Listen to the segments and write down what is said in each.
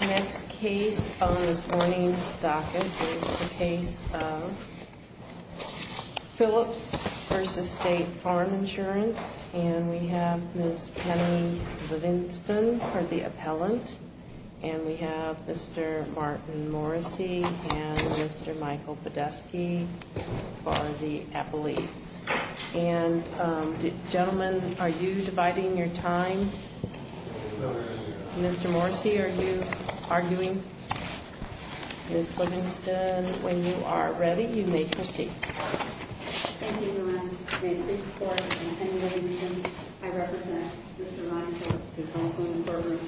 Next case on this morning's docket is the case of Phillips v. State Farm Insurance, and we have Ms. Penny Livingston for the appellant, and we have Mr. Martin Morrissey and Mr. Michael Podesky for the appellate. And gentlemen, are you dividing your time? Mr. Morrissey, are you arguing? Ms. Livingston, when you are ready, you may proceed. Thank you, Your Honor. May it please the Court, I'm Penny Livingston. I represent Mr. Ryan Phillips, who is also in the courtroom.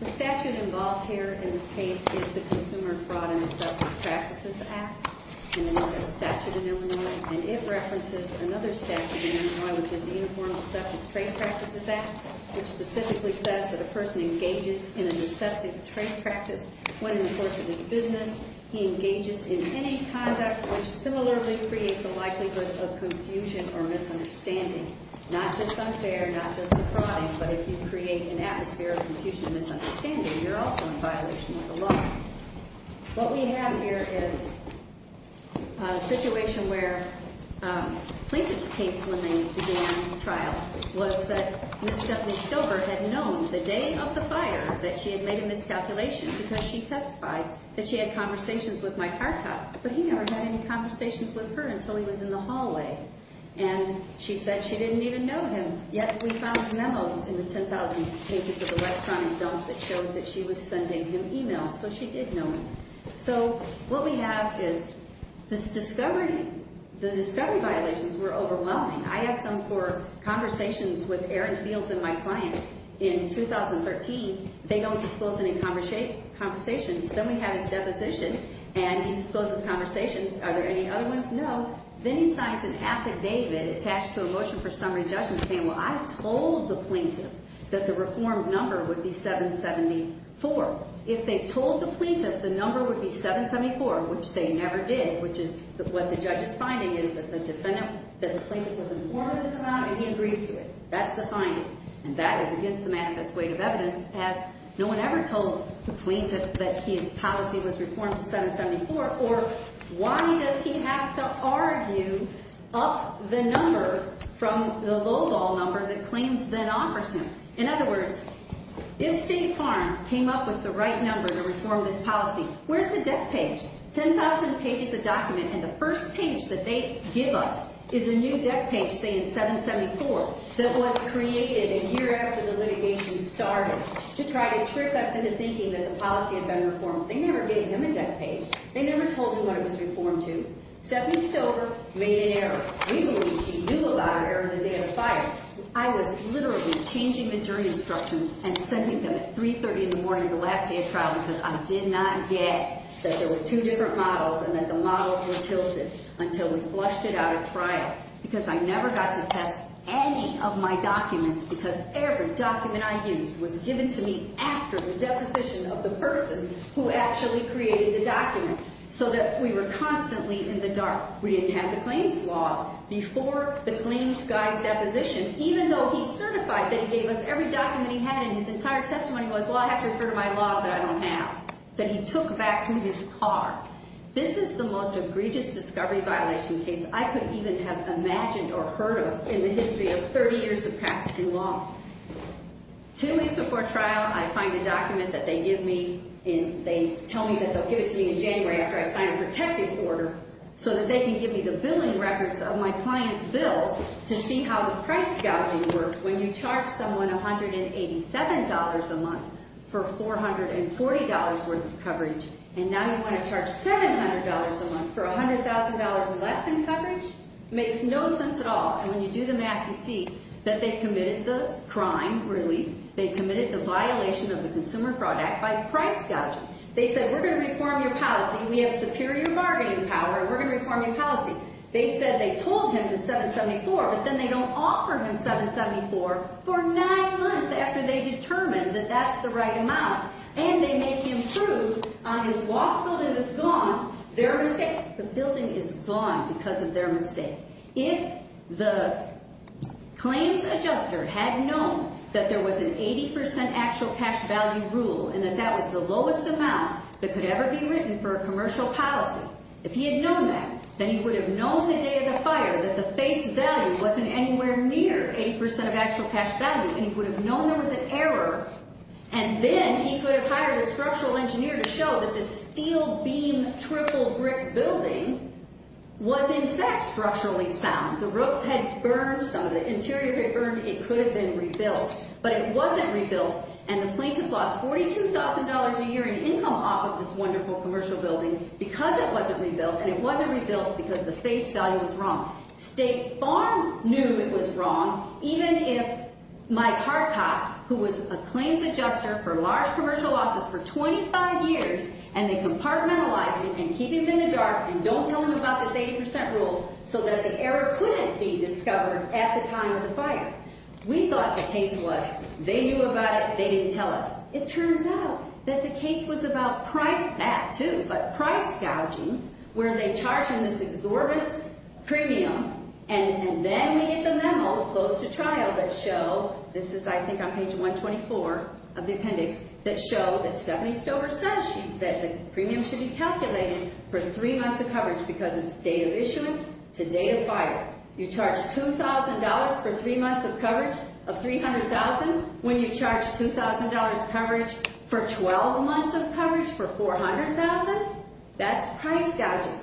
The statute involved here in this case is the Consumer Fraud and Deceptive Practices Act, and it is a statute in Illinois, and it references another statute in Illinois, which is the Uniform Deceptive Trade Practices Act, which specifically says that a person engages in a deceptive trade practice when in the course of his business, he engages in any conduct which similarly creates a likelihood of confusion or misunderstanding. Not just unfair, not just defrauding, but if you create an atmosphere of confusion and misunderstanding, you're also in violation of the law. What we have here is a situation where Plaintiff's case, when they began trial, was that Ms. Stephanie Stover had known the day of the fire that she had made a miscalculation, because she testified that she had conversations with my car cop, but he never had any conversations with her until he was in the hallway. And she said she didn't even know him, yet we found memos in the 10,000 pages of electronic dump that showed that she was sending him emails, so she did know him. So what we have is this discovery, the discovery violations were overwhelming. I asked him for conversations with Aaron Fields and my client. In 2013, they don't disclose any conversations. Then we have his deposition, and he discloses conversations. Are there any other ones? No. Then he signs an affidavit attached to a motion for summary judgment saying, well, I told the Plaintiff that the reformed number would be 774. If they told the Plaintiff the number would be 774, which they never did, which is what the judge's finding is that the defendant, that the Plaintiff was informed of this amount and he agreed to it. That's the finding. And that is against the manifest weight of evidence, as no one ever told the Plaintiff that his policy was reformed to 774, or why does he have to argue up the number from the lowball number that claims the non-person? In other words, if State Farm came up with the right number to reform this policy, where's the deck page? 10,000 pages of document, and the first page that they give us is a new deck page saying 774 that was created a year after the litigation started to try to trick us into thinking that the policy had been reformed. They never gave him a deck page. They never told him what it was reformed to. Stephanie Stover made an error. We believe she knew about her error the day of the fire. I was literally changing the jury instructions and sending them at 3.30 in the morning the last day of trial because I did not get that there were two different models and that the models were tilted until we flushed it out of trial. Because I never got to test any of my documents because every document I used was given to me after the deposition of the person who actually created the document, so that we were constantly in the dark. We didn't have the claims law before the claims guy's deposition, even though he certified that he gave us every document he had and his entire testimony was, well, I have to refer to my law that I don't have, that he took back to his car. This is the most egregious discovery violation case I could even have imagined or heard of in the history of 30 years of practicing law. Two weeks before trial, I find a document that they give me and they tell me that they'll give it to me in January after I sign a protective order so that they can give me the billing records of my client's bills to see how the price gouging works when you charge someone $187 a month for $440 worth of coverage. And now you want to charge $700 a month for $100,000 less in coverage? Makes no sense at all. And when you do the math, you see that they committed the crime, really. They committed the violation of the Consumer Fraud Act by price gouging. They said, we're going to reform your policy. We have superior bargaining power. We're going to reform your policy. They said they told him to $774, but then they don't offer him $774 for nine months after they determined that that's the right amount. And they make him prove on his law school that it's gone, their mistake. The billing is gone because of their mistake. If the claims adjuster had known that there was an 80% actual cash value rule and that that was the lowest amount that could ever be written for a commercial policy, if he had known that, then he would have known the day of the fire that the face value wasn't anywhere near 80% of actual cash value and he would have known there was an error. And then he could have hired a structural engineer to show that this steel beam triple brick building was, in fact, structurally sound. The roof had burned. Some of the interior had burned. It could have been rebuilt. But it wasn't rebuilt. And the plaintiff lost $42,000 a year in income off of this wonderful commercial building because it wasn't rebuilt. And it wasn't rebuilt because the face value was wrong. State Farm knew it was wrong, even if Mike Harcott, who was a claims adjuster for large commercial offices for 25 years, and they compartmentalized it and keep him in the dark and don't tell him about this 80% rule so that the error couldn't be discovered at the time of the fire. We thought the case was they knew about it. They didn't tell us. It turns out that the case was about price gouging where they charge him this exorbitant premium. And then we get the memos close to trial that show, this is I think on page 124 of the appendix, that show that Stephanie Stover says that the premium should be calculated for three months of coverage because it's date of issuance to date of fire. You charge $2,000 for three months of coverage of $300,000 when you charge $2,000 coverage for 12 months of coverage for $400,000? That's price gouging.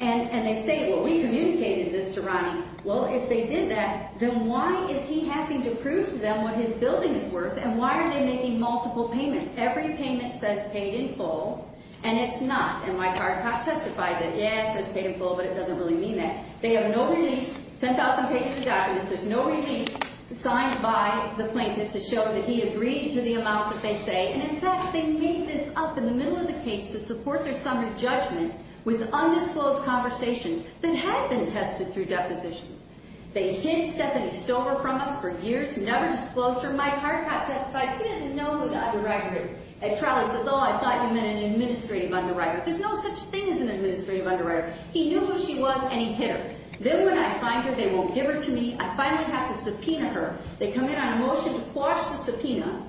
And they say, well, we communicated this to Ronnie. Well, if they did that, then why is he having to prove to them what his building is worth and why are they making multiple payments? Every payment says paid in full, and it's not. And Mike Harcott testified that, yeah, it says paid in full, but it doesn't really mean that. They have no release, 10,000 pages of documents. There's no release signed by the plaintiff to show that he agreed to the amount that they say. And, in fact, they make this up in the middle of the case to support their summary judgment with undisclosed conversations that have been tested through depositions. They hid Stephanie Stover from us for years, never disclosed her. Mike Harcott testified he didn't know who the underwriter was. At trial, he says, oh, I thought you meant an administrative underwriter. There's no such thing as an administrative underwriter. He knew who she was, and he hid her. Then when I find her, they won't give her to me. I finally have to subpoena her. They come in on a motion to quash the subpoena,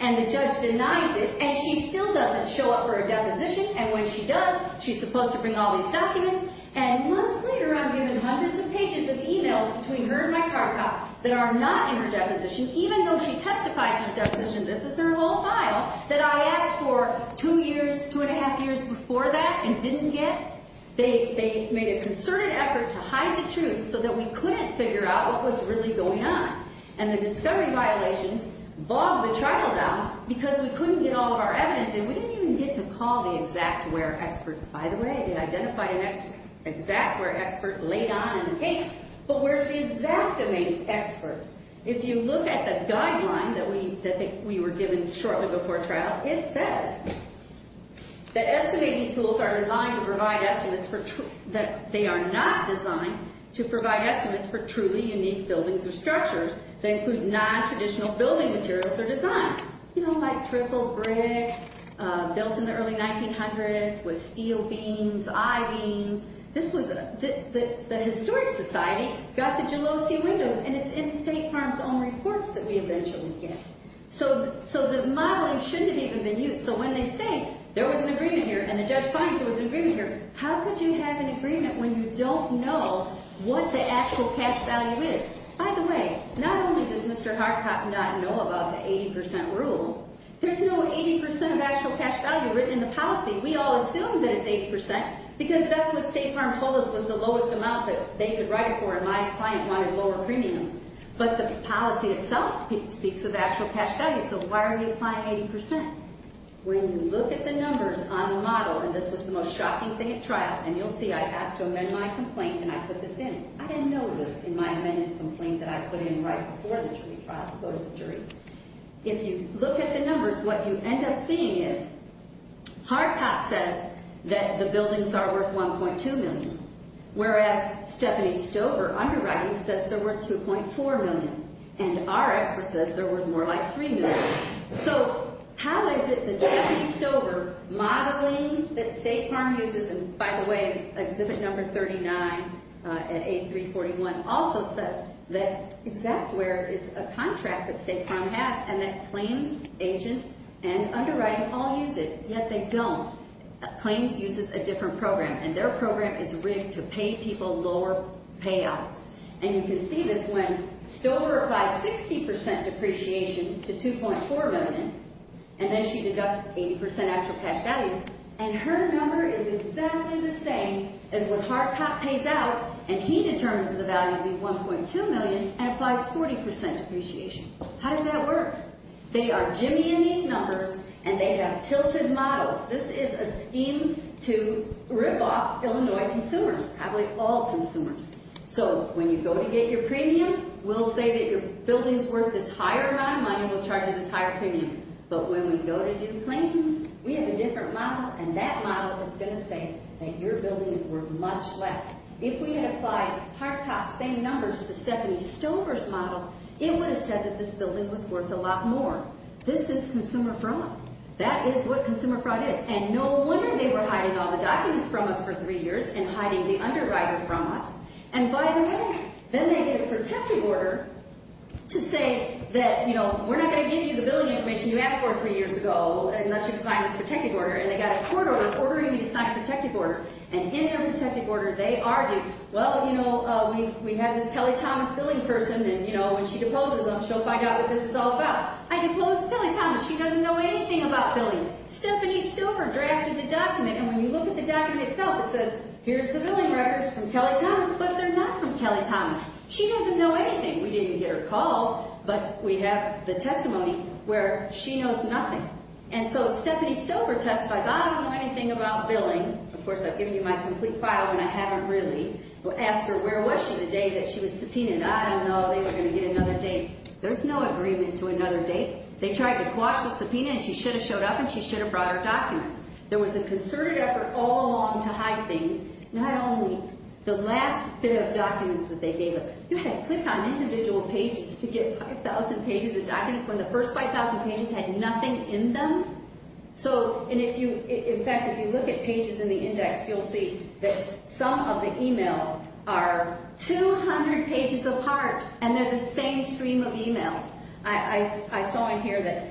and the judge denies it, and she still doesn't show up for a deposition. And when she does, she's supposed to bring all these documents. And months later, I'm given hundreds of pages of e-mails between her and Mike Harcott that are not in her deposition, even though she testifies in a deposition. This is her whole file that I asked for two years, two and a half years before that and didn't get. They made a concerted effort to hide the truth so that we couldn't figure out what was really going on. And the discovery violations bogged the trial down because we couldn't get all of our evidence. And we didn't even get to call the exact where expert. By the way, they identified an exact where expert late on in the case. But where's the exactimate expert? If you look at the guideline that we were given shortly before trial, it says that estimating tools are designed to provide estimates for true— that they are not designed to provide estimates for truly unique buildings or structures that include nontraditional building materials or designs. You know, like triple brick built in the early 1900s with steel beams, I-beams. This was a—the Historic Society got the Jalowski windows, and it's in State Farm's own reports that we eventually get. So the modeling shouldn't have even been used. So when they say there was an agreement here and the judge finds there was an agreement here, how could you have an agreement when you don't know what the actual cash value is? By the way, not only does Mr. Harcott not know about the 80 percent rule, there's no 80 percent of actual cash value written in the policy. We all assume that it's 80 percent because that's what State Farm told us was the lowest amount that they could write it for, and my client wanted lower premiums. But the policy itself speaks of actual cash value, so why are you applying 80 percent? When you look at the numbers on the model—and this was the most shocking thing at trial, and you'll see I asked to amend my complaint, and I put this in. I didn't know this in my amended complaint that I put in right before the jury trial to go to the jury. If you look at the numbers, what you end up seeing is Harcott says that the buildings are worth $1.2 million, whereas Stephanie Stover, underwriting, says they're worth $2.4 million, and our expert says they're worth more like $3 million. So how is it that Stephanie Stover modeling that State Farm uses—and by the way, Exhibit Number 39 at A341 also says that exact where is a contract that State Farm has, and that claims agents and underwriting all use it, yet they don't. Claims uses a different program, and their program is rigged to pay people lower payouts. And you can see this when Stover applies 60 percent depreciation to $2.4 million, and then she deducts 80 percent extra cash value, and her number is exactly the same as what Harcott pays out, and he determines the value to be $1.2 million and applies 40 percent depreciation. How does that work? They are jimmying these numbers, and they have tilted models. This is a scheme to rip off Illinois consumers, probably all consumers. So when you go to get your premium, we'll say that your building's worth this higher amount of money, and we'll charge you this higher premium. But when we go to do claims, we have a different model, and that model is going to say that your building is worth much less. If we had applied Harcott's same numbers to Stephanie Stover's model, it would have said that this building was worth a lot more. This is consumer fraud. That is what consumer fraud is. And no wonder they were hiding all the documents from us for three years and hiding the underwriter from us. And by the way, then they get a protective order to say that, you know, we're not going to give you the building information you asked for three years ago unless you sign this protective order, and they got a court order ordering you to sign a protective order. And in their protective order, they argue, well, you know, we have this Kelly Thomas billing person, and, you know, when she deposes them, she'll find out what this is all about. I deposed Kelly Thomas. She doesn't know anything about billing. Stephanie Stover drafted the document, and when you look at the document itself, it says here's the billing records from Kelly Thomas, but they're not from Kelly Thomas. She doesn't know anything. We didn't get her called, but we have the testimony where she knows nothing. And so Stephanie Stover testified, I don't know anything about billing. Of course, I've given you my complete file, and I haven't really asked her where was she the day that she was subpoenaed. I don't know. They were going to get another date. There's no agreement to another date. They tried to quash the subpoena, and she should have showed up, and she should have brought her documents. There was a concerted effort all along to hide things, not only the last bit of documents that they gave us. You had to click on individual pages to get 5,000 pages of documents when the first 5,000 pages had nothing in them? So, and if you, in fact, if you look at pages in the index, you'll see that some of the emails are 200 pages apart, and they're the same stream of emails. I saw in here that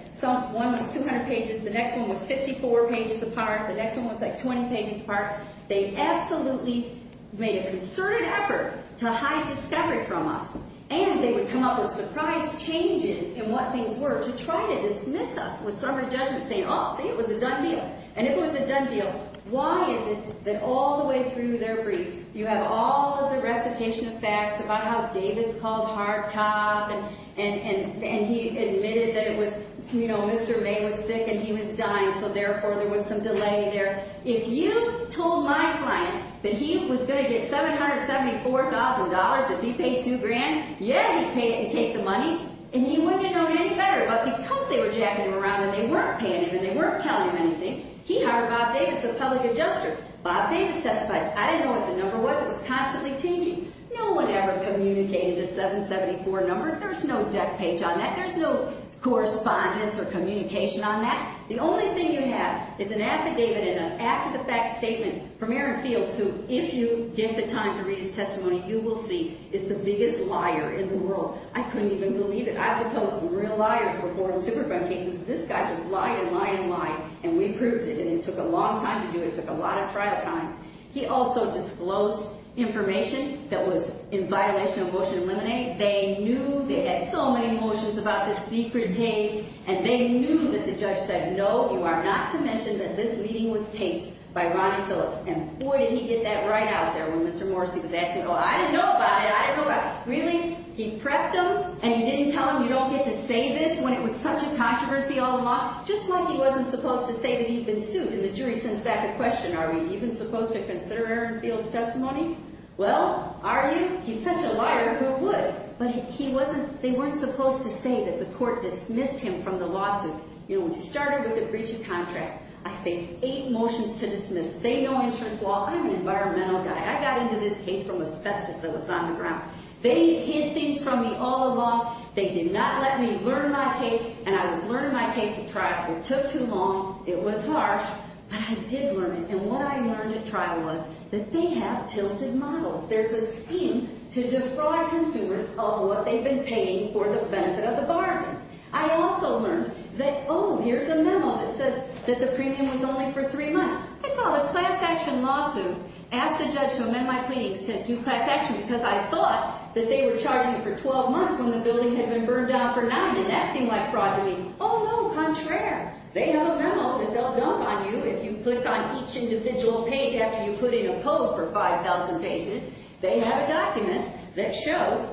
one was 200 pages, the next one was 54 pages apart, the next one was, like, 20 pages apart. They absolutely made a concerted effort to hide discovery from us, and they would come up with surprise changes in what things were to try to dismiss us with summary judgment saying, oh, see, it was a done deal. And if it was a done deal, why is it that all the way through their brief you have all of the recitation of facts about how Davis called hard cop and he admitted that it was, you know, Mr. May was sick and he was dying, so therefore there was some delay there. If you told my client that he was going to get $774,000 if he paid two grand, yeah, he'd pay it and take the money, and he wouldn't have known any better. But because they were jacking him around and they weren't paying him and they weren't telling him anything, he hired Bob Davis, the public adjuster. Bob Davis testified. I didn't know what the number was. It was constantly changing. No one ever communicated a 774 number. There's no deck page on that. There's no correspondence or communication on that. The only thing you have is an affidavit and an act-of-the-fact statement from Aaron Fields who, if you get the time to read his testimony, you will see is the biggest liar in the world. I couldn't even believe it. I've proposed real liars before in superfund cases. This guy just lied and lied and lied, and we proved it, and it took a long time to do it. It took a lot of trial time. He also disclosed information that was in violation of Motion to Eliminate. They knew. They had so many motions about this secret tape, and they knew that the judge said, no, you are not to mention that this meeting was taped by Ronnie Phillips. And boy, did he get that right out there when Mr. Morrissey was asking, oh, I didn't know about it. I didn't know about it. Really? He prepped him, and you didn't tell him you don't get to say this when it was such a controversy all along, just like he wasn't supposed to say that he'd been sued, and the jury sends back a question, are we even supposed to consider Aaron Fields' testimony? Well, are you? He's such a liar, who would? But he wasn't, they weren't supposed to say that the court dismissed him from the lawsuit. You know, it started with a breach of contract. I faced eight motions to dismiss. They know insurance law. I'm an environmental guy. I got into this case from asbestos that was on the ground. They hid things from me all along. They did not let me learn my case, and I was learning my case at trial. It took too long. It was harsh. But I did learn it, and what I learned at trial was that they have tilted models. There's a scheme to defraud consumers of what they've been paying for the benefit of the bargain. I also learned that, oh, here's a memo that says that the premium was only for three months. I filed a class action lawsuit, asked the judge to amend my pleadings to do class action because I thought that they were charging for 12 months when the building had been burned down for nine. Didn't that seem like fraud to me? Oh, no, contraire. They have a memo that they'll dump on you if you click on each individual page after you put in a code for 5,000 pages. They have a document that shows,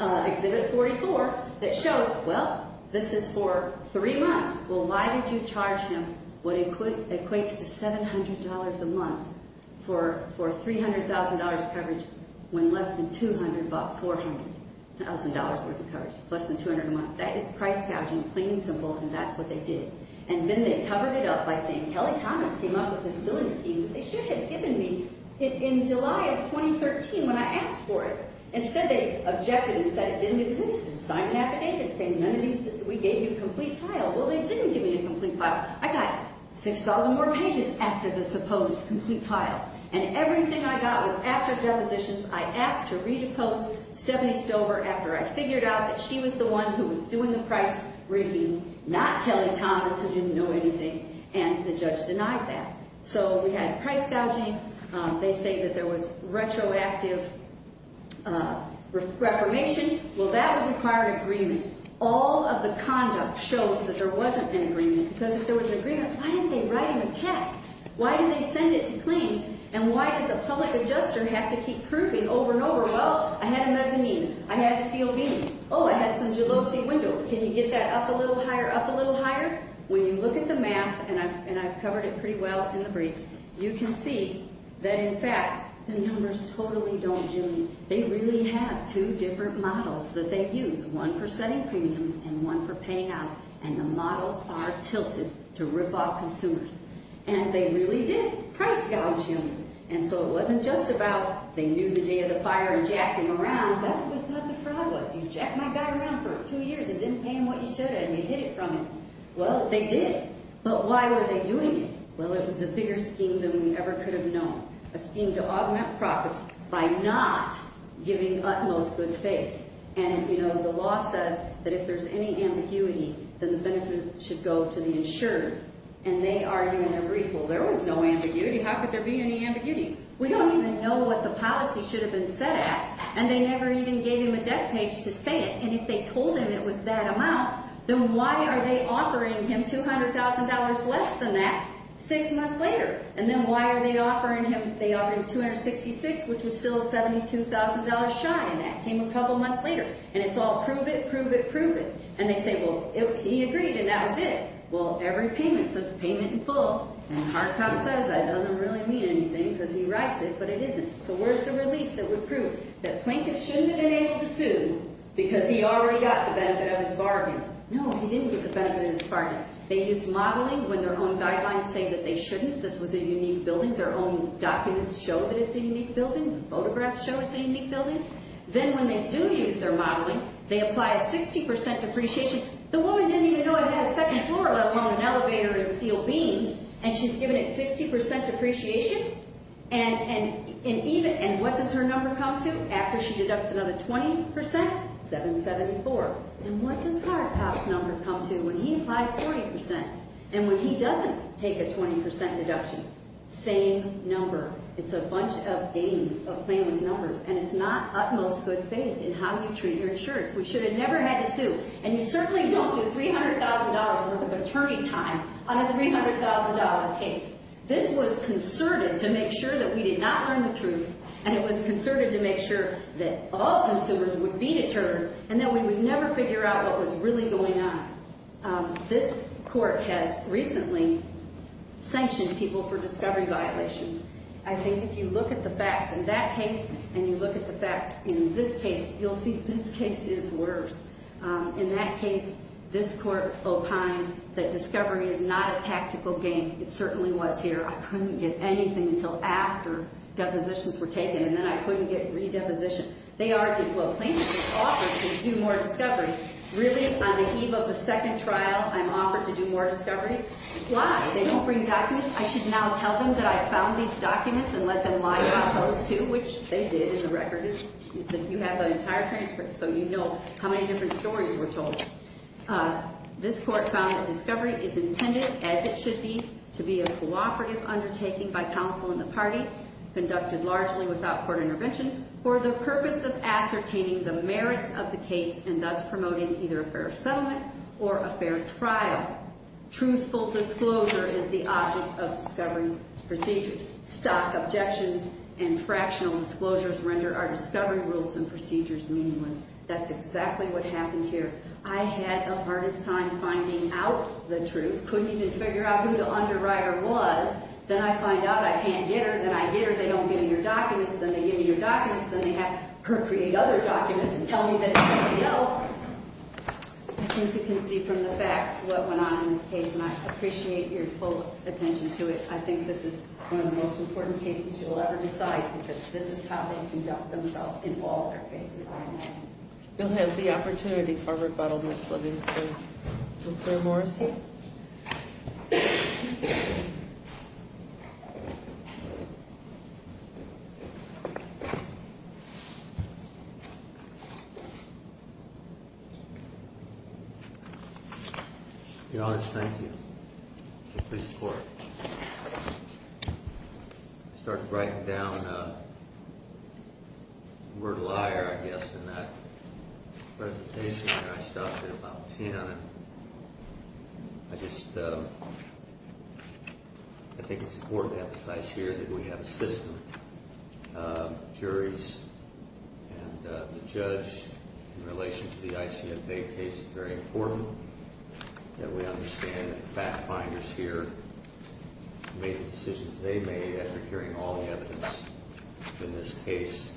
Exhibit 44, that shows, well, this is for three months. Well, why did you charge him what equates to $700 a month for $300,000 coverage when less than $200 bought $400,000 worth of coverage, less than $200 a month? That is price gouging, plain and simple, and that's what they did. And then they covered it up by saying, Kelly Thomas came up with this billing scheme. They should have given me it in July of 2013 when I asked for it. Instead, they objected and said it didn't exist and signed an affidavit saying none of these, we gave you a complete file. Well, they didn't give me a complete file. I got 6,000 more pages after the supposed complete file, and everything I got was after depositions. I asked to re-depose Stephanie Stover after I figured out that she was the one who was doing the price review, not Kelly Thomas, who didn't know anything, and the judge denied that. So we had price gouging. They say that there was retroactive reformation. Well, that would require an agreement. All of the conduct shows that there wasn't an agreement because if there was an agreement, why didn't they write him a check? Why didn't they send it to claims? And why does a public adjuster have to keep proving over and over, well, I had a mezzanine. I had steel beams. Oh, I had some gelosi windows. Can you get that up a little higher, up a little higher? When you look at the map, and I've covered it pretty well in the brief, you can see that, in fact, the numbers totally don't genuine. They really have two different models that they use, one for setting premiums and one for paying out, and the models are tilted to rip off consumers, and they really did price gouge him, and so it wasn't just about they knew the day of the fire and jacked him around. That's what the fraud was. You jacked my guy around for two years and didn't pay him what you should have and you hid it from him. Well, they did, but why were they doing it? Well, it was a bigger scheme than we ever could have known, a scheme to augment profits by not giving utmost good faith, and, you know, the law says that if there's any ambiguity, then the benefit should go to the insurer, and they argue in their brief, well, there was no ambiguity. How could there be any ambiguity? We don't even know what the policy should have been set at, and they never even gave him a debt page to say it, and if they told him it was that amount, then why are they offering him $200,000 less than that six months later, and then why are they offering him $266,000, which was still $72,000 shy, and that came a couple months later, and it's all prove it, prove it, prove it, and they say, well, he agreed, and that was it. Well, every payment says payment in full, and Hardcock says that doesn't really mean anything because he writes it, but it isn't. So where's the release that would prove that plaintiffs shouldn't have been able to sue because he already got the benefit of his bargain? No, he didn't get the benefit of his bargain. They used modeling when their own guidelines say that they shouldn't. This was a unique building. Their own documents show that it's a unique building. Photographs show it's a unique building. Then when they do use their modeling, they apply a 60% depreciation. The woman didn't even know it had a second floor, let alone an elevator and steel beams, and she's given it 60% depreciation, and what does her number come to after she deducts another 20%? $774,000, and what does Hardcock's number come to when he applies 40% and when he doesn't take a 20% deduction? Same number. It's a bunch of games of playing with numbers, and it's not utmost good faith in how you treat your insurance. We should have never had to sue, and you certainly don't do $300,000 worth of attorney time on a $300,000 case. This was concerted to make sure that we did not learn the truth, and it was concerted to make sure that all consumers would be deterred and that we would never figure out what was really going on. This court has recently sanctioned people for discovery violations. I think if you look at the facts in that case and you look at the facts in this case, you'll see this case is worse. In that case, this court opined that discovery is not a tactical game. It certainly was here. I couldn't get anything until after depositions were taken, and then I couldn't get redeposition. They argued, well, plaintiffs are offered to do more discovery. Really, on the eve of the second trial, I'm offered to do more discovery? Why? They don't bring documents. I should now tell them that I found these documents and let them lie about those too, which they did. The record is that you have that entire transcript, so you know how many different stories were told. This court found that discovery is intended, as it should be, to be a cooperative undertaking by counsel and the parties, conducted largely without court intervention, for the purpose of ascertaining the merits of the case and thus promoting either a fair settlement or a fair trial. Truthful disclosure is the object of discovery procedures. Stock objections and fractional disclosures render our discovery rules and procedures meaningless. That's exactly what happened here. I had the hardest time finding out the truth, couldn't even figure out who the underwriter was. Then I find out I can't get her. Then I get her. They don't give me her documents. Then they give me her documents. Then they have her create other documents and tell me that it's somebody else. I think you can see from the facts what went on in this case, and I appreciate your full attention to it. I think this is one of the most important cases you'll ever decide, because this is how they conduct themselves in all their cases. You'll have the opportunity for rebuttal, Mr. Livingston. Mr. Morrissey? Your Honor, thank you. Please support. I started writing down the word liar, I guess, in that presentation, and I stopped at about 10. I just think it's important to emphasize here that we have a system. Juries and the judge, in relation to the ICFA case, it's very important that we understand that the fact-finders here made the decisions they made after hearing all the evidence in this case,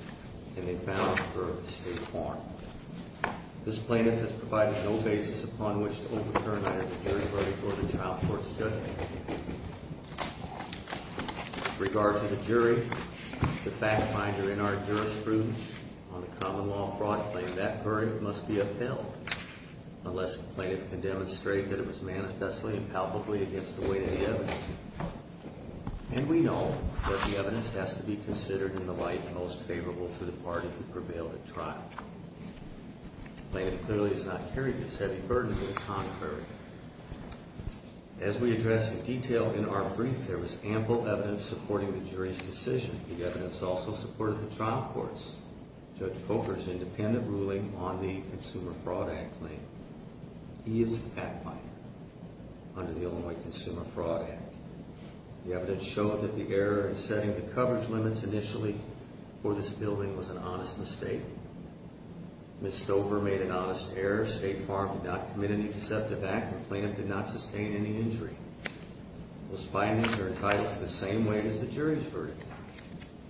and they found them for state form. This plaintiff has provided no basis upon which to overturn either the jury verdict or the child court's judgment. With regard to the jury, the fact-finder in our jurisprudence on the common law fraud claim, that verdict must be upheld, unless the plaintiff can demonstrate that it was manifestly and palpably against the weight of the evidence. And we know that the evidence has to be considered in the light most favorable to the party who prevailed at trial. The plaintiff clearly has not carried this heavy burden to the contrary. As we address in detail in our brief, there was ample evidence supporting the jury's decision. The evidence also supported the child court's, Judge Coker's, independent ruling on the Consumer Fraud Act claim. He is a fact-finder under the Illinois Consumer Fraud Act. The evidence showed that the error in setting the coverage limits initially for this building was an honest mistake. Ms. Stover made an honest error. State Farm did not commit any deceptive act. The plaintiff did not sustain any injury. Those findings are entitled to the same weight as the jury's verdict.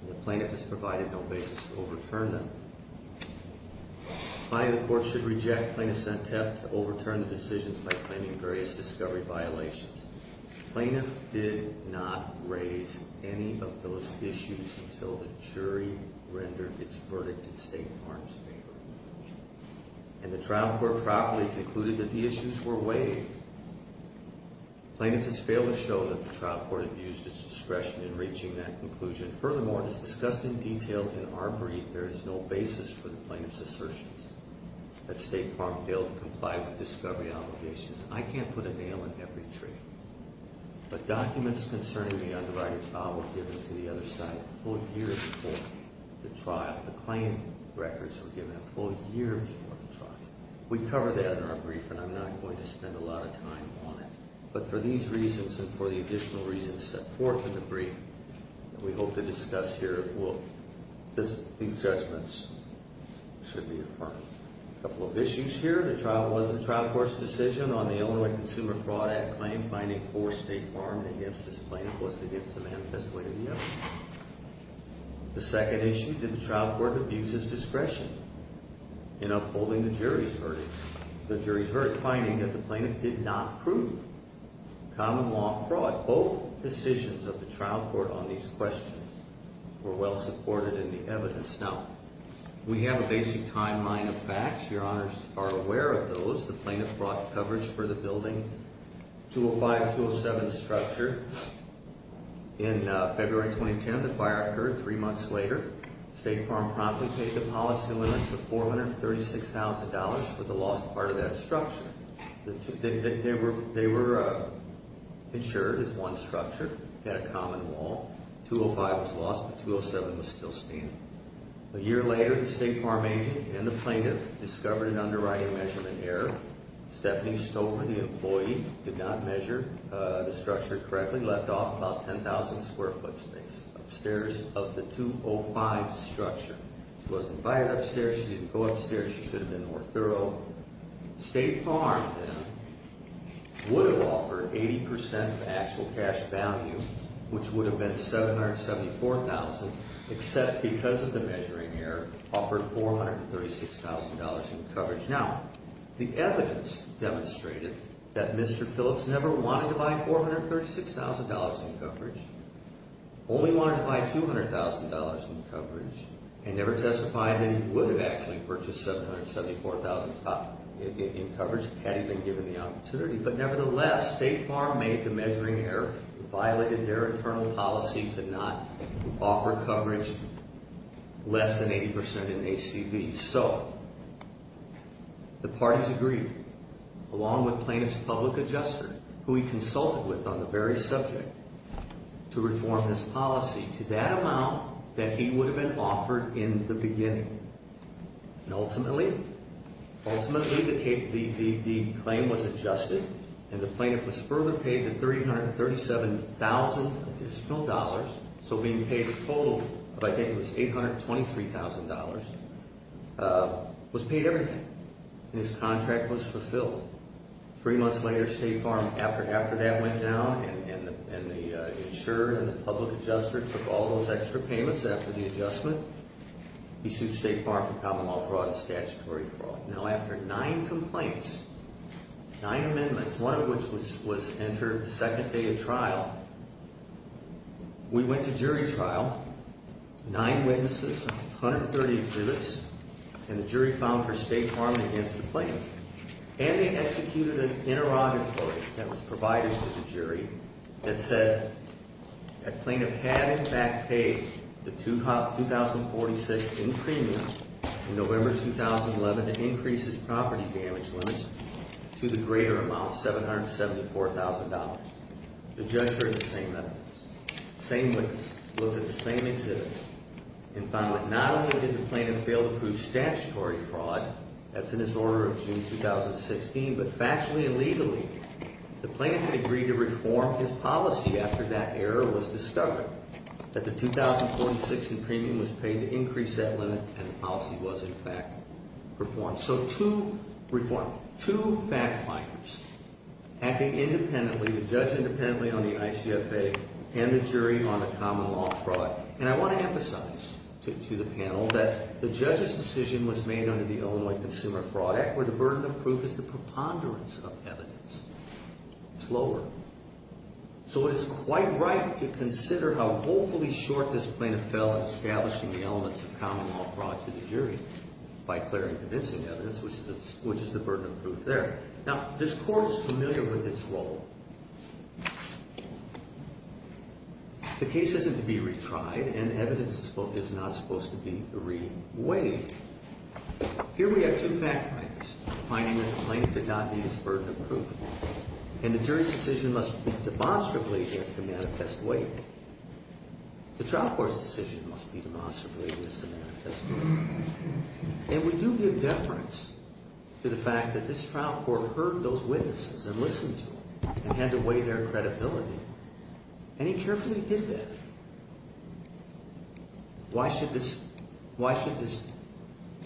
The plaintiff has provided no basis to overturn them. Finally, the court should reject plaintiff's attempt to overturn the decisions by claiming various discovery violations. The plaintiff did not raise any of those issues until the jury rendered its verdict in State Farm's favor. And the trial court proudly concluded that the issues were weighed. The plaintiff has failed to show that the trial court has used its discretion in reaching that conclusion. Furthermore, as discussed in detail in our brief, there is no basis for the plaintiff's assertions that State Farm failed to comply with discovery obligations. I can't put a nail in every tree. The documents concerning the undivided file were given to the other side a full year before the trial. The claim records were given a full year before the trial. We cover that in our brief, and I'm not going to spend a lot of time on it. But for these reasons and for the additional reasons set forth in the brief that we hope to discuss here, these judgments should be affirmed. A couple of issues here. The trial wasn't a trial court's decision on the Illinois Consumer Fraud Act claim finding four State Farms against this plaintiff was against the manifest way of the evidence. The second issue, did the trial court abuse its discretion in upholding the jury's verdict, the jury's verdict finding that the plaintiff did not prove common law fraud? Both decisions of the trial court on these questions were well supported in the evidence. Now, we have a basic timeline of facts. Your Honors are aware of those. The plaintiff brought coverage for the building, 205-207 structure. In February 2010, the fire occurred three months later. State Farm promptly paid the policy limits of $436,000 for the lost part of that structure. They were insured as one structure, had a common wall. 205 was lost, but 207 was still standing. A year later, the State Farm agent and the plaintiff discovered an underwriting measurement error. Stephanie Stover, the employee, did not measure the structure correctly, left off about 10,000 square foot space upstairs of the 205 structure. She wasn't fired upstairs. She didn't go upstairs. She should have been more thorough. State Farm, then, would have offered 80% of actual cash value, which would have been $774,000, except because of the measuring error, offered $436,000 in coverage. Now, the evidence demonstrated that Mr. Phillips never wanted to buy $436,000 in coverage, only wanted to buy $200,000 in coverage, and never testified that he would have actually purchased $774,000 in coverage had he been given the opportunity. But nevertheless, State Farm made the measuring error, violated their internal policy to not offer coverage less than 80% in ACVs. So, the parties agreed, along with Plaintiff's public adjuster, who he consulted with on the very subject, to reform this policy to that amount that he would have been offered in the beginning. Ultimately, the claim was adjusted, and the plaintiff was further paid the $337,000 additional dollars, so being paid a total of, I think it was $823,000, was paid everything, and his contract was fulfilled. Three months later, State Farm, after that went down, and the insurer and the public adjuster took all those extra payments after the adjustment. He sued State Farm for common law fraud and statutory fraud. Now, after nine complaints, nine amendments, one of which was entered the second day of trial, we went to jury trial, nine witnesses, 130 exhibits, and the jury found for State Farm against the plaintiff. And they executed an interrogatory that was provided to the jury that said that plaintiff had in fact paid the 2046 in premiums in November 2011 to increase his property damage limits to the greater amount, $774,000. The judge heard the same evidence, same witness, looked at the same exhibits, and found that not only did the plaintiff fail to prove statutory fraud, that's in his order of June 2016, but factually and legally, the plaintiff had agreed to reform his policy after that error was discovered, that the 2046 in premium was paid to increase that limit, and the policy was in fact performed. So two fact-finders acting independently, the judge independently on the ICFA and the jury on the common law fraud. And I want to emphasize to the panel that the judge's decision was made under the Illinois Consumer Fraud Act, where the burden of proof is the preponderance of evidence. It's lower. So it is quite right to consider how woefully short this plaintiff fell in establishing the elements of common law fraud to the jury by clearing convincing evidence, which is the burden of proof there. Now, this court is familiar with its role. The case isn't to be retried, and evidence is not supposed to be reweighed. Here we have two fact-finders, finding that the plaintiff did not meet his burden of proof, and the jury's decision must be demonstrably mismanifest weight. The trial court's decision must be demonstrably mismanifest weight. And we do give deference to the fact that this trial court heard those witnesses and listened to them and had to weigh their credibility, and he carefully did that. Why should this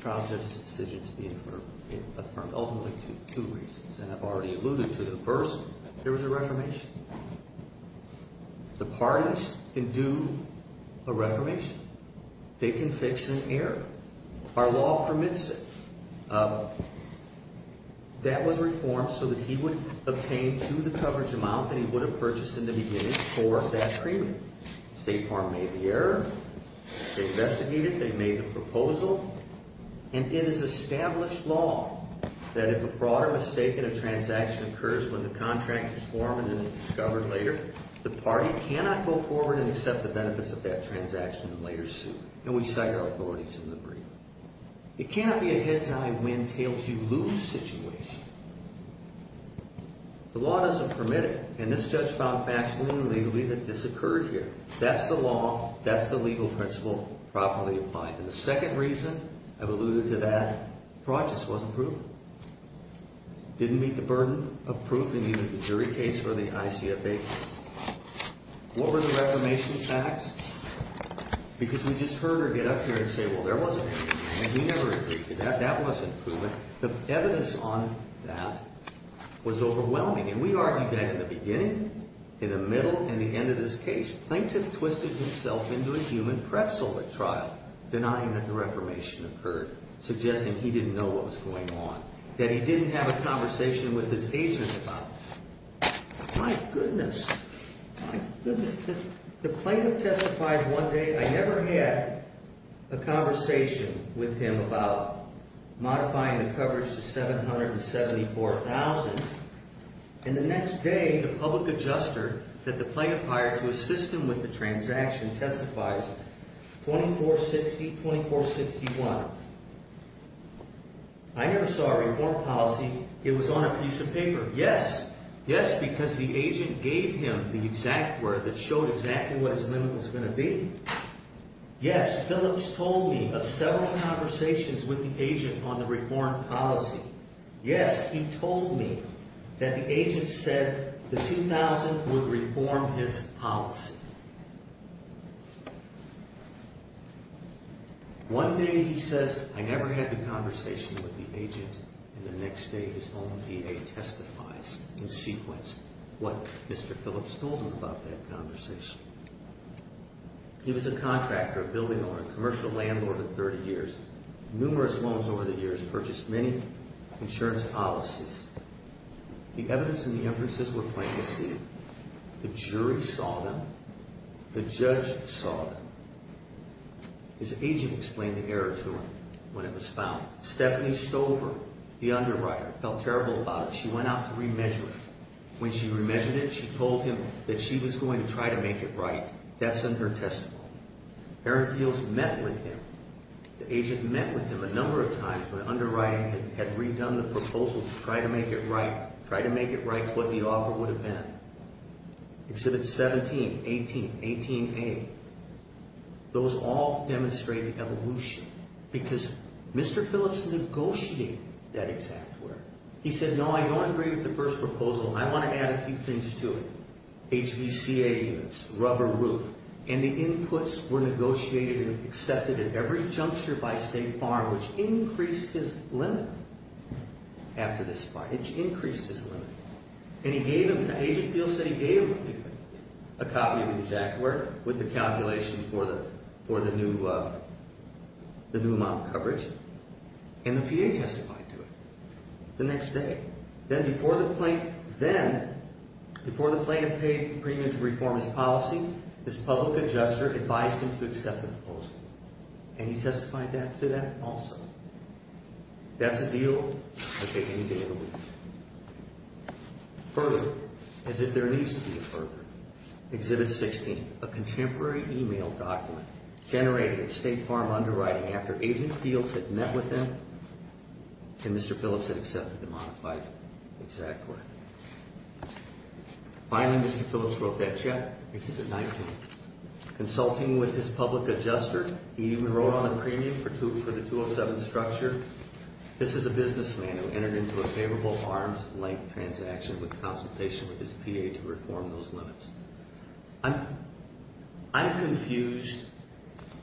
trial judge's decision be affirmed? Ultimately, for two reasons, and I've already alluded to them. First, there was a reformation. The parties can do a reformation. They can fix an error. Our law permits it. That was reformed so that he would obtain to the coverage amount that he would have purchased in the beginning for that agreement. State Farm made the error. They investigated. They made the proposal. And it is established law that if a fraud or mistake in a transaction occurs when the contract is formed and is discovered later, the party cannot go forward and accept the benefits of that transaction and later sue. And we cite our authorities in the brief. It can't be a head's-eye, win-tails-you-lose situation. The law doesn't permit it. And this judge found factually and legally that this occurred here. That's the law. That's the legal principle properly applied. And the second reason I've alluded to that, fraud just wasn't proven. Didn't meet the burden of proof in either the jury case or the ICFA case. What were the reformation facts? Because we just heard her get up here and say, well, there wasn't anything. And we never agreed to that. That wasn't proven. The evidence on that was overwhelming. And we argued that in the beginning, in the middle, and the end of this case. Plaintiff twisted himself into a human pretzel at trial, denying that the reformation occurred, suggesting he didn't know what was going on, that he didn't have a conversation with his agent about it. My goodness. The plaintiff testified one day. I never had a conversation with him about modifying the coverage to $774,000. And the next day, the public adjusted that the plaintiff hired to assist him with the transaction testifies 2460-2461. I never saw a reform policy. It was on a piece of paper. Yes. Yes, because the agent gave him the exact word that showed exactly what his limit was going to be. Yes, Phillips told me of several conversations with the agent on the reform policy. Yes, he told me that the agent said the $2,000 would reform his policy. One day, he says, I never had the conversation with the agent. And the next day, his own PA testifies and sequenced what Mr. Phillips told him about that conversation. He was a contractor building on a commercial landlord for 30 years. Numerous loans over the years purchased many insurance policies. The evidence and the inferences were plain to see. The jury saw them. The judge saw them. His agent explained the error to him when it was found. Stephanie Stover, the underwriter, felt terrible about it. She went out to remeasure it. When she remeasured it, she told him that she was going to try to make it right. That's in her testimony. Aaron Peels met with him. The agent met with him a number of times when underwriting had redone the proposal to try to make it right, like what the offer would have been. Exhibit 17, 18, 18A, those all demonstrate evolution. Because Mr. Phillips negotiated that exact word. He said, no, I don't agree with the first proposal. I want to add a few things to it. HVCA units, rubber roof. And the inputs were negotiated and accepted at every juncture by State Farm, which increased his limit after this fight. Which increased his limit. And he gave him, the agent Peels said he gave him a copy of the exact word with the calculations for the new amount of coverage. And the PA testified to it the next day. Then, before the plaintiff paid the premium to reform his policy, his public adjuster advised him to accept the proposal. And he testified to that also. That's a deal that would take any day of the week. Further, as if there needs to be a further, Exhibit 16, a contemporary email document generated at State Farm underwriting after agent Peels had met with him and Mr. Phillips had accepted the modified exact word. Finally, Mr. Phillips wrote that check, Exhibit 19. Consulting with his public adjuster, he even wrote on the premium for the 207 structure. This is a businessman who entered into a favorable arms length transaction with consultation with his PA to reform those limits. I'm confused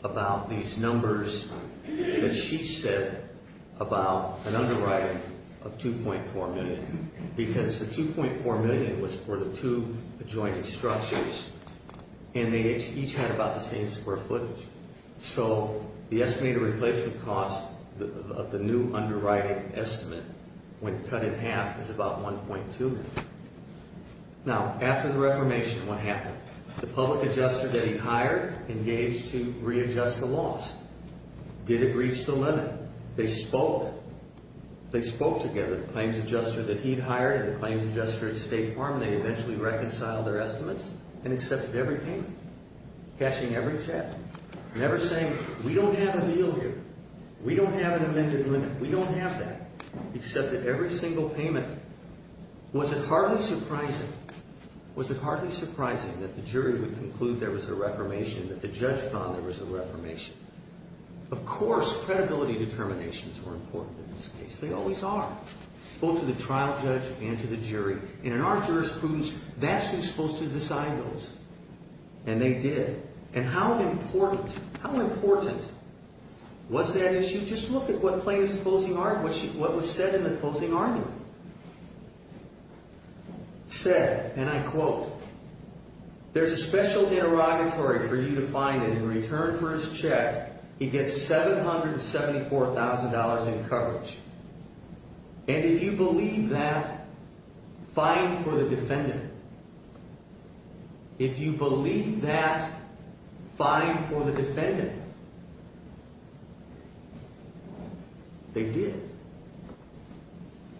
about these numbers that she said about an underwriting of 2.4 million. Because the 2.4 million was for the two adjoining structures. And they each had about the same square footage. So, the estimated replacement cost of the new underwriting estimate, when cut in half, is about 1.2 million. Now, after the reformation, what happened? The public adjuster that he hired engaged to readjust the loss. Did it reach the limit? They spoke. They spoke together. The claims adjuster that he'd hired and the claims adjuster at State Farm, they eventually reconciled their estimates and accepted every payment. Cashing every check. Never saying, we don't have a deal here. We don't have an amended limit. We don't have that. Accepted every single payment. Was it hardly surprising, was it hardly surprising that the jury would conclude there was a reformation, that the judge found there was a reformation? Of course, credibility determinations were important in this case. They always are. Both to the trial judge and to the jury. And in our jurisprudence, that's who's supposed to decide those. And they did. And how important, how important was that issue? Just look at what was said in the closing argument. Said, and I quote, there's a special interrogatory for you to find and in return for his check, he gets $774,000 in coverage. And if you believe that, fine for the defendant. If you believe that, fine for the defendant. They did.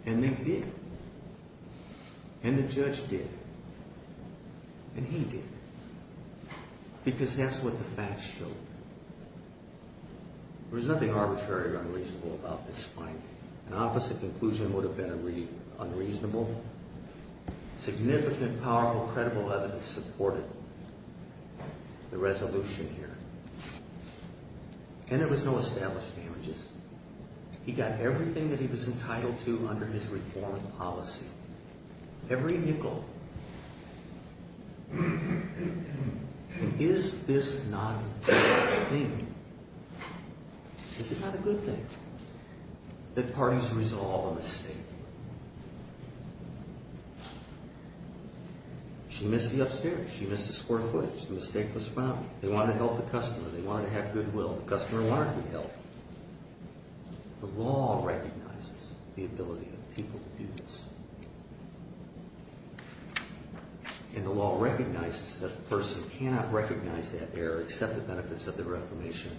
And they did. And the judge did. And he did. Because that's what the facts showed. There's nothing arbitrary or unreasonable about this fight. An opposite conclusion would have been unreasonable. Significant, powerful, credible evidence supported the resolution here. And there was no established damages. He got everything that he was entitled to under his reform policy. Every nickel. Is this not a good thing? Is it not a good thing that parties resolve a mistake? She missed the upstairs. She missed the square footage. The mistake was found. They wanted to help the customer. They wanted to have goodwill. The customer wanted to be helped. The law recognizes the ability of people to do this. And the law recognizes that a person cannot recognize that error, accept the benefits of the reformation,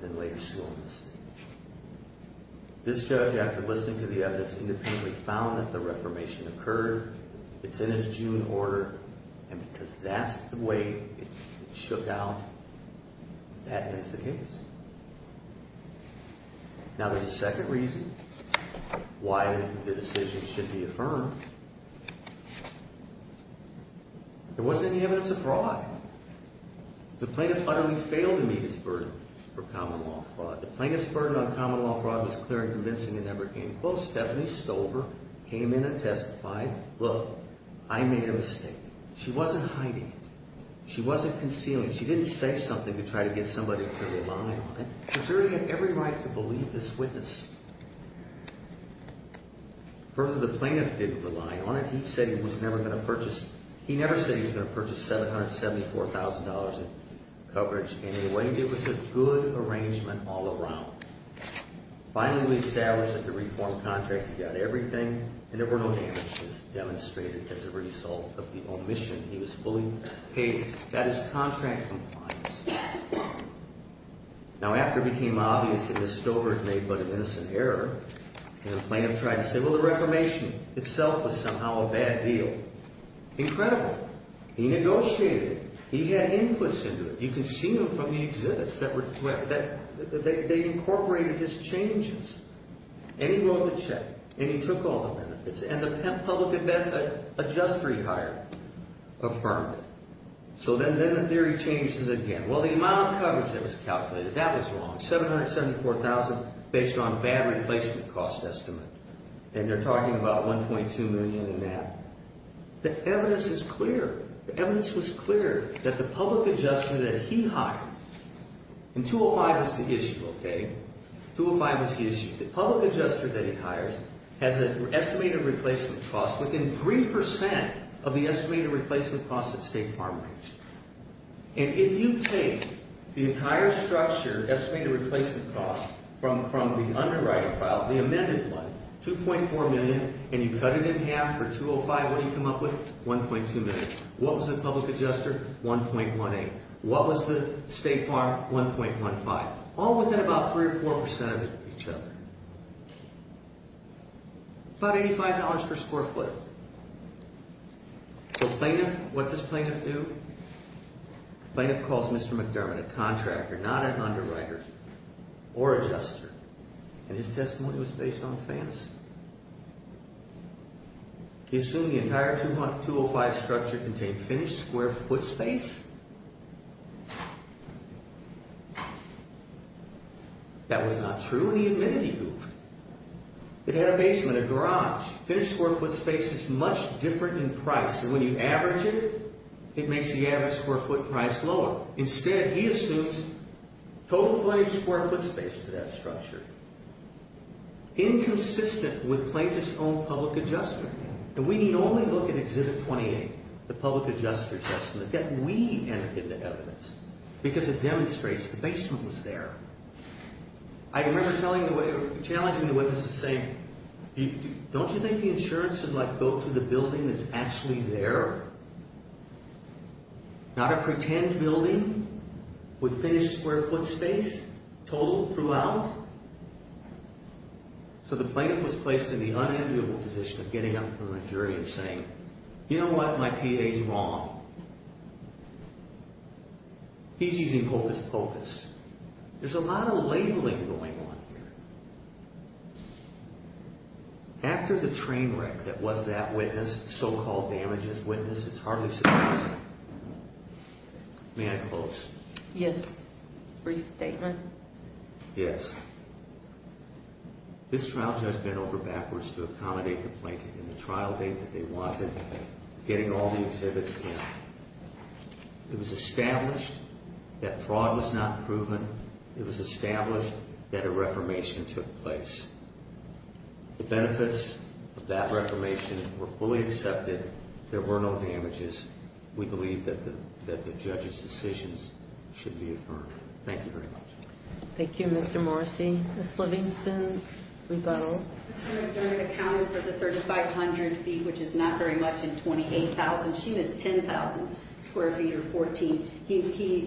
then later show a mistake. This judge, after listening to the evidence, independently found that the reformation occurred. It's in his June order. And because that's the way it shook out, that makes the case. Now, there's a second reason why the decision should be affirmed. There wasn't any evidence of fraud. The plaintiff utterly failed to meet his burden for common law fraud. The plaintiff's burden on common law fraud was clear and convincing and never came close. Stephanie Stover came in and testified. Look, I made a mistake. She wasn't hiding it. She wasn't concealing it. She didn't say something to try to get somebody to rely on it. The jury had every right to believe this witness. Further, the plaintiff didn't rely on it. He said he was never going to purchase. He never said he was going to purchase $774,000 in coverage. Anyway, it was a good arrangement all around. Finally, we established that the reform contract, he got everything, and there were no damages demonstrated as a result of the omission. He was fully paid. That is contract compliance. Now, after it became obvious that Ms. Stover had made but an innocent error, the plaintiff tried to say, well, the reformation itself was somehow a bad deal. Incredible. He negotiated. He had inputs into it. You can see them from the exhibits. They incorporated his changes. And he wrote the check, and he took all the benefits, and the public adjustery hire affirmed it. So then the theory changes again. Well, the amount of coverage that was calculated, that was wrong. $774,000 based on bad replacement cost estimate, and they're talking about $1.2 million in that. The evidence is clear. That the public adjuster that he hired, and 205 was the issue, okay? 205 was the issue. The public adjuster that he hires has an estimated replacement cost within 3% of the estimated replacement cost at state farm rates. And if you take the entire structure, estimated replacement cost, from the underwriting file, the amended one, $2.4 million, and you cut it in half for 205, what do you come up with? $1.2 million. What was the public adjuster? $1.18. What was the state farm? $1.15. All within about 3% or 4% of each other. About $85 per square foot. So plaintiff, what does plaintiff do? Plaintiff calls Mr. McDermott a contractor, not an underwriter or adjuster. And his testimony was based on fantasy. He assumed the entire 205 structure contained finished square foot space. That was not true, and he admitted he moved. It had a basement, a garage. Finished square foot space is much different in price, and when you average it, it makes the average square foot price lower. Instead, he assumes total finished square foot space for that structure. Inconsistent with plaintiff's own public adjuster. And we can only look at Exhibit 28, the public adjuster adjustment, that we enter into evidence because it demonstrates the basement was there. I remember challenging the witness to say, don't you think the insurance should go to the building that's actually there? Not a pretend building with finished square foot space, total throughout. So the plaintiff was placed in the unenviable position of getting up from a jury and saying, you know what, my PA's wrong. He's using hocus pocus. There's a lot of labeling going on here. After the train wreck that was that witness, so-called damaged witness, it's hardly surprising. May I close? Yes. Brief statement? Yes. This trial judge bent over backwards to accommodate the plaintiff in the trial date that they wanted, getting all the exhibits in. It was established that fraud was not proven. It was established that a reformation took place. The benefits of that reformation were fully accepted. There were no damages. We believe that the judge's decisions should be affirmed. Thank you very much. Thank you, Mr. Morrissey. Ms. Livingston, rebuttal? This man accounted for the 3,500 feet, which is not very much, and 28,000. She missed 10,000 square feet, or 14. He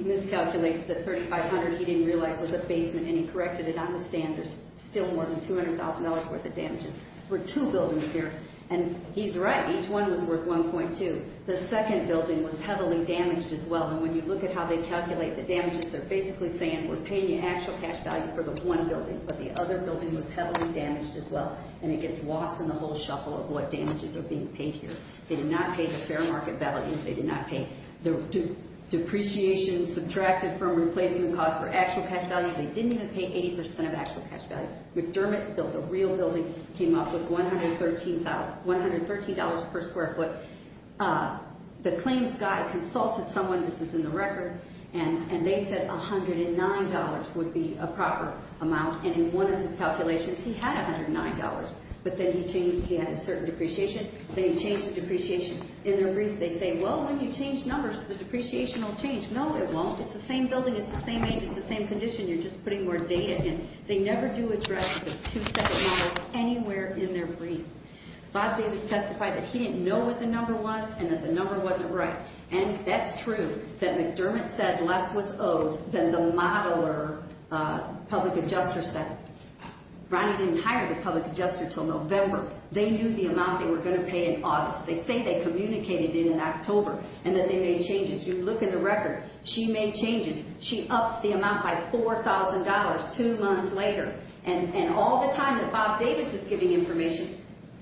miscalculates the 3,500. He didn't realize it was a basement, and he corrected it on the stand. There's still more than $200,000 worth of damages for two buildings here. And he's right. Each one was worth 1.2. The second building was heavily damaged as well. And when you look at how they calculate the damages, they're basically saying we're paying you actual cash value for the one building, but the other building was heavily damaged as well. And it gets lost in the whole shuffle of what damages are being paid here. They did not pay the fair market value. They did not pay the depreciation subtracted from replacing the cost for actual cash value. They didn't even pay 80% of actual cash value. McDermott built a real building, came up with $113 per square foot. The claims guy consulted someone. This is in the record. And they said $109 would be a proper amount. And in one of his calculations, he had $109, but then he had a certain depreciation. They changed the depreciation in their brief. They say, well, when you change numbers, the depreciation will change. No, it won't. It's the same building. It's the same age. It's the same condition. You're just putting more data in. They never do address those two separate numbers anywhere in their brief. Bob Davis testified that he didn't know what the number was and that the number wasn't right. And that's true that McDermott said less was owed than the modeler public adjuster said. Ronnie didn't hire the public adjuster until November. They knew the amount they were going to pay in August. They say they communicated it in October and that they made changes. You look in the record. She made changes. She upped the amount by $4,000 two months later. And all the time that Bob Davis is giving information,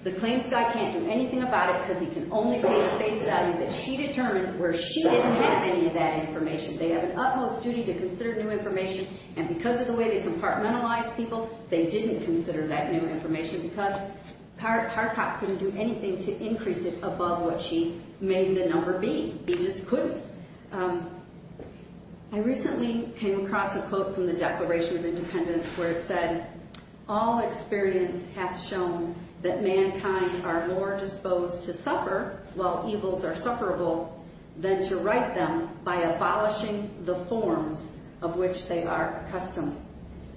the claims guy can't do anything about it because he can only pay the face value that she determined where she didn't have any of that information. They have an utmost duty to consider new information, and because of the way they compartmentalize people, they didn't consider that new information because Harcock couldn't do anything to increase it above what she made the number be. He just couldn't. I recently came across a quote from the Declaration of Independence where it said, All experience hath shown that mankind are more disposed to suffer, while evils are sufferable, than to right them by abolishing the forms of which they are accustomed.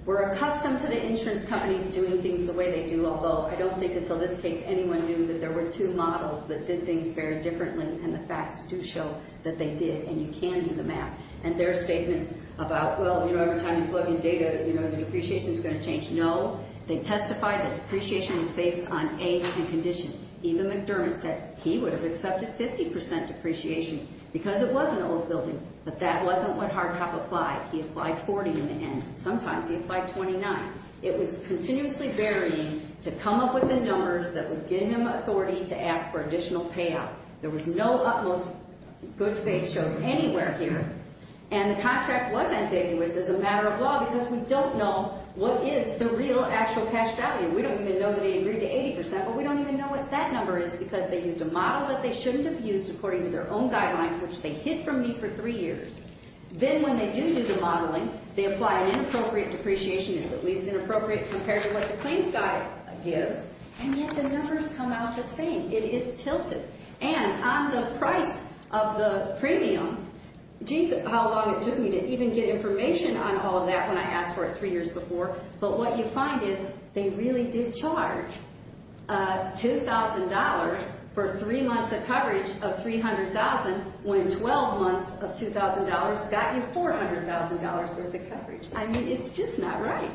We're accustomed to the insurance companies doing things the way they do, although I don't think until this case anyone knew that there were two models that did things very differently, and the facts do show that they did, and you can do the math. And there are statements about, well, you know, every time you plug in data, you know, the depreciation's going to change. No, they testified that depreciation was based on age and condition. Even McDermott said he would have accepted 50% depreciation because it was an old building, but that wasn't what Harcock applied. He applied 40 in the end. Sometimes he applied 29. It was continuously varying to come up with the numbers that would give him authority to ask for additional payout. There was no utmost good faith show anywhere here, and the contract was ambiguous as a matter of law because we don't know what is the real actual cash value. We don't even know that he agreed to 80%, but we don't even know what that number is because they used a model that they shouldn't have used according to their own guidelines, which they hid from me for three years. Then when they do do the modeling, they apply an inappropriate depreciation. It's at least inappropriate compared to what the claims guide gives, and yet the numbers come out the same. It is tilted. On the price of the premium, geez, how long it took me to even get information on all of that when I asked for it three years before, but what you find is they really did charge $2,000 for three months of coverage of $300,000 when 12 months of $2,000 got you $400,000 worth of coverage. I mean, it's just not right.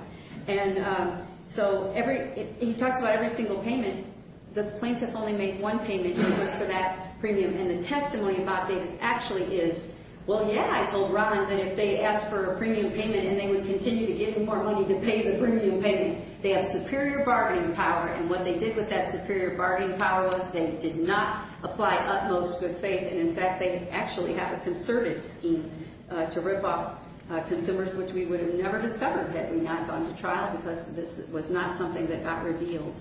He talks about every single payment. The plaintiff only made one payment, and it was for that premium, and the testimony about this actually is, well, yeah, I told Ron that if they asked for a premium payment and they would continue to give him more money to pay the premium payment, they have superior bargaining power, and what they did with that superior bargaining power was they did not apply utmost good faith, and, in fact, they actually have a concerted scheme had we not gone to trial because this was not something that got revealed.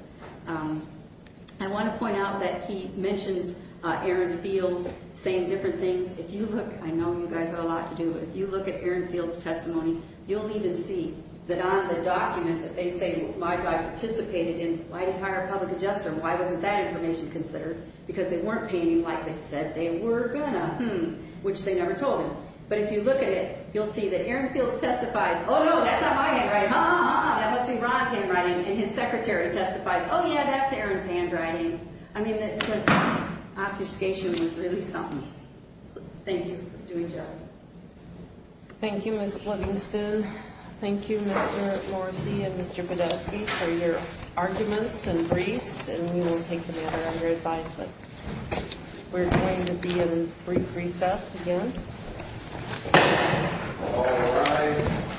I want to point out that he mentions Aaron Fields saying different things. If you look, I know you guys have a lot to do, but if you look at Aaron Fields' testimony, you'll even see that on the document that they say, well, my guy participated in, why did he hire a public adjuster? Why wasn't that information considered? Because they weren't painting like they said they were going to, which they never told him. But if you look at it, you'll see that Aaron Fields testifies, oh, no, that's not my handwriting, ha, ha, ha, ha, that must be Ron's handwriting, and his secretary testifies, oh, yeah, that's Aaron's handwriting. I mean, the obfuscation was really something. Thank you for doing justice. Thank you, Ms. Livingston. Thank you, Mr. Morrissey and Mr. Podolsky, for your arguments and briefs, and we won't take any other of your advice, but we're going to be in brief recess again. All rise.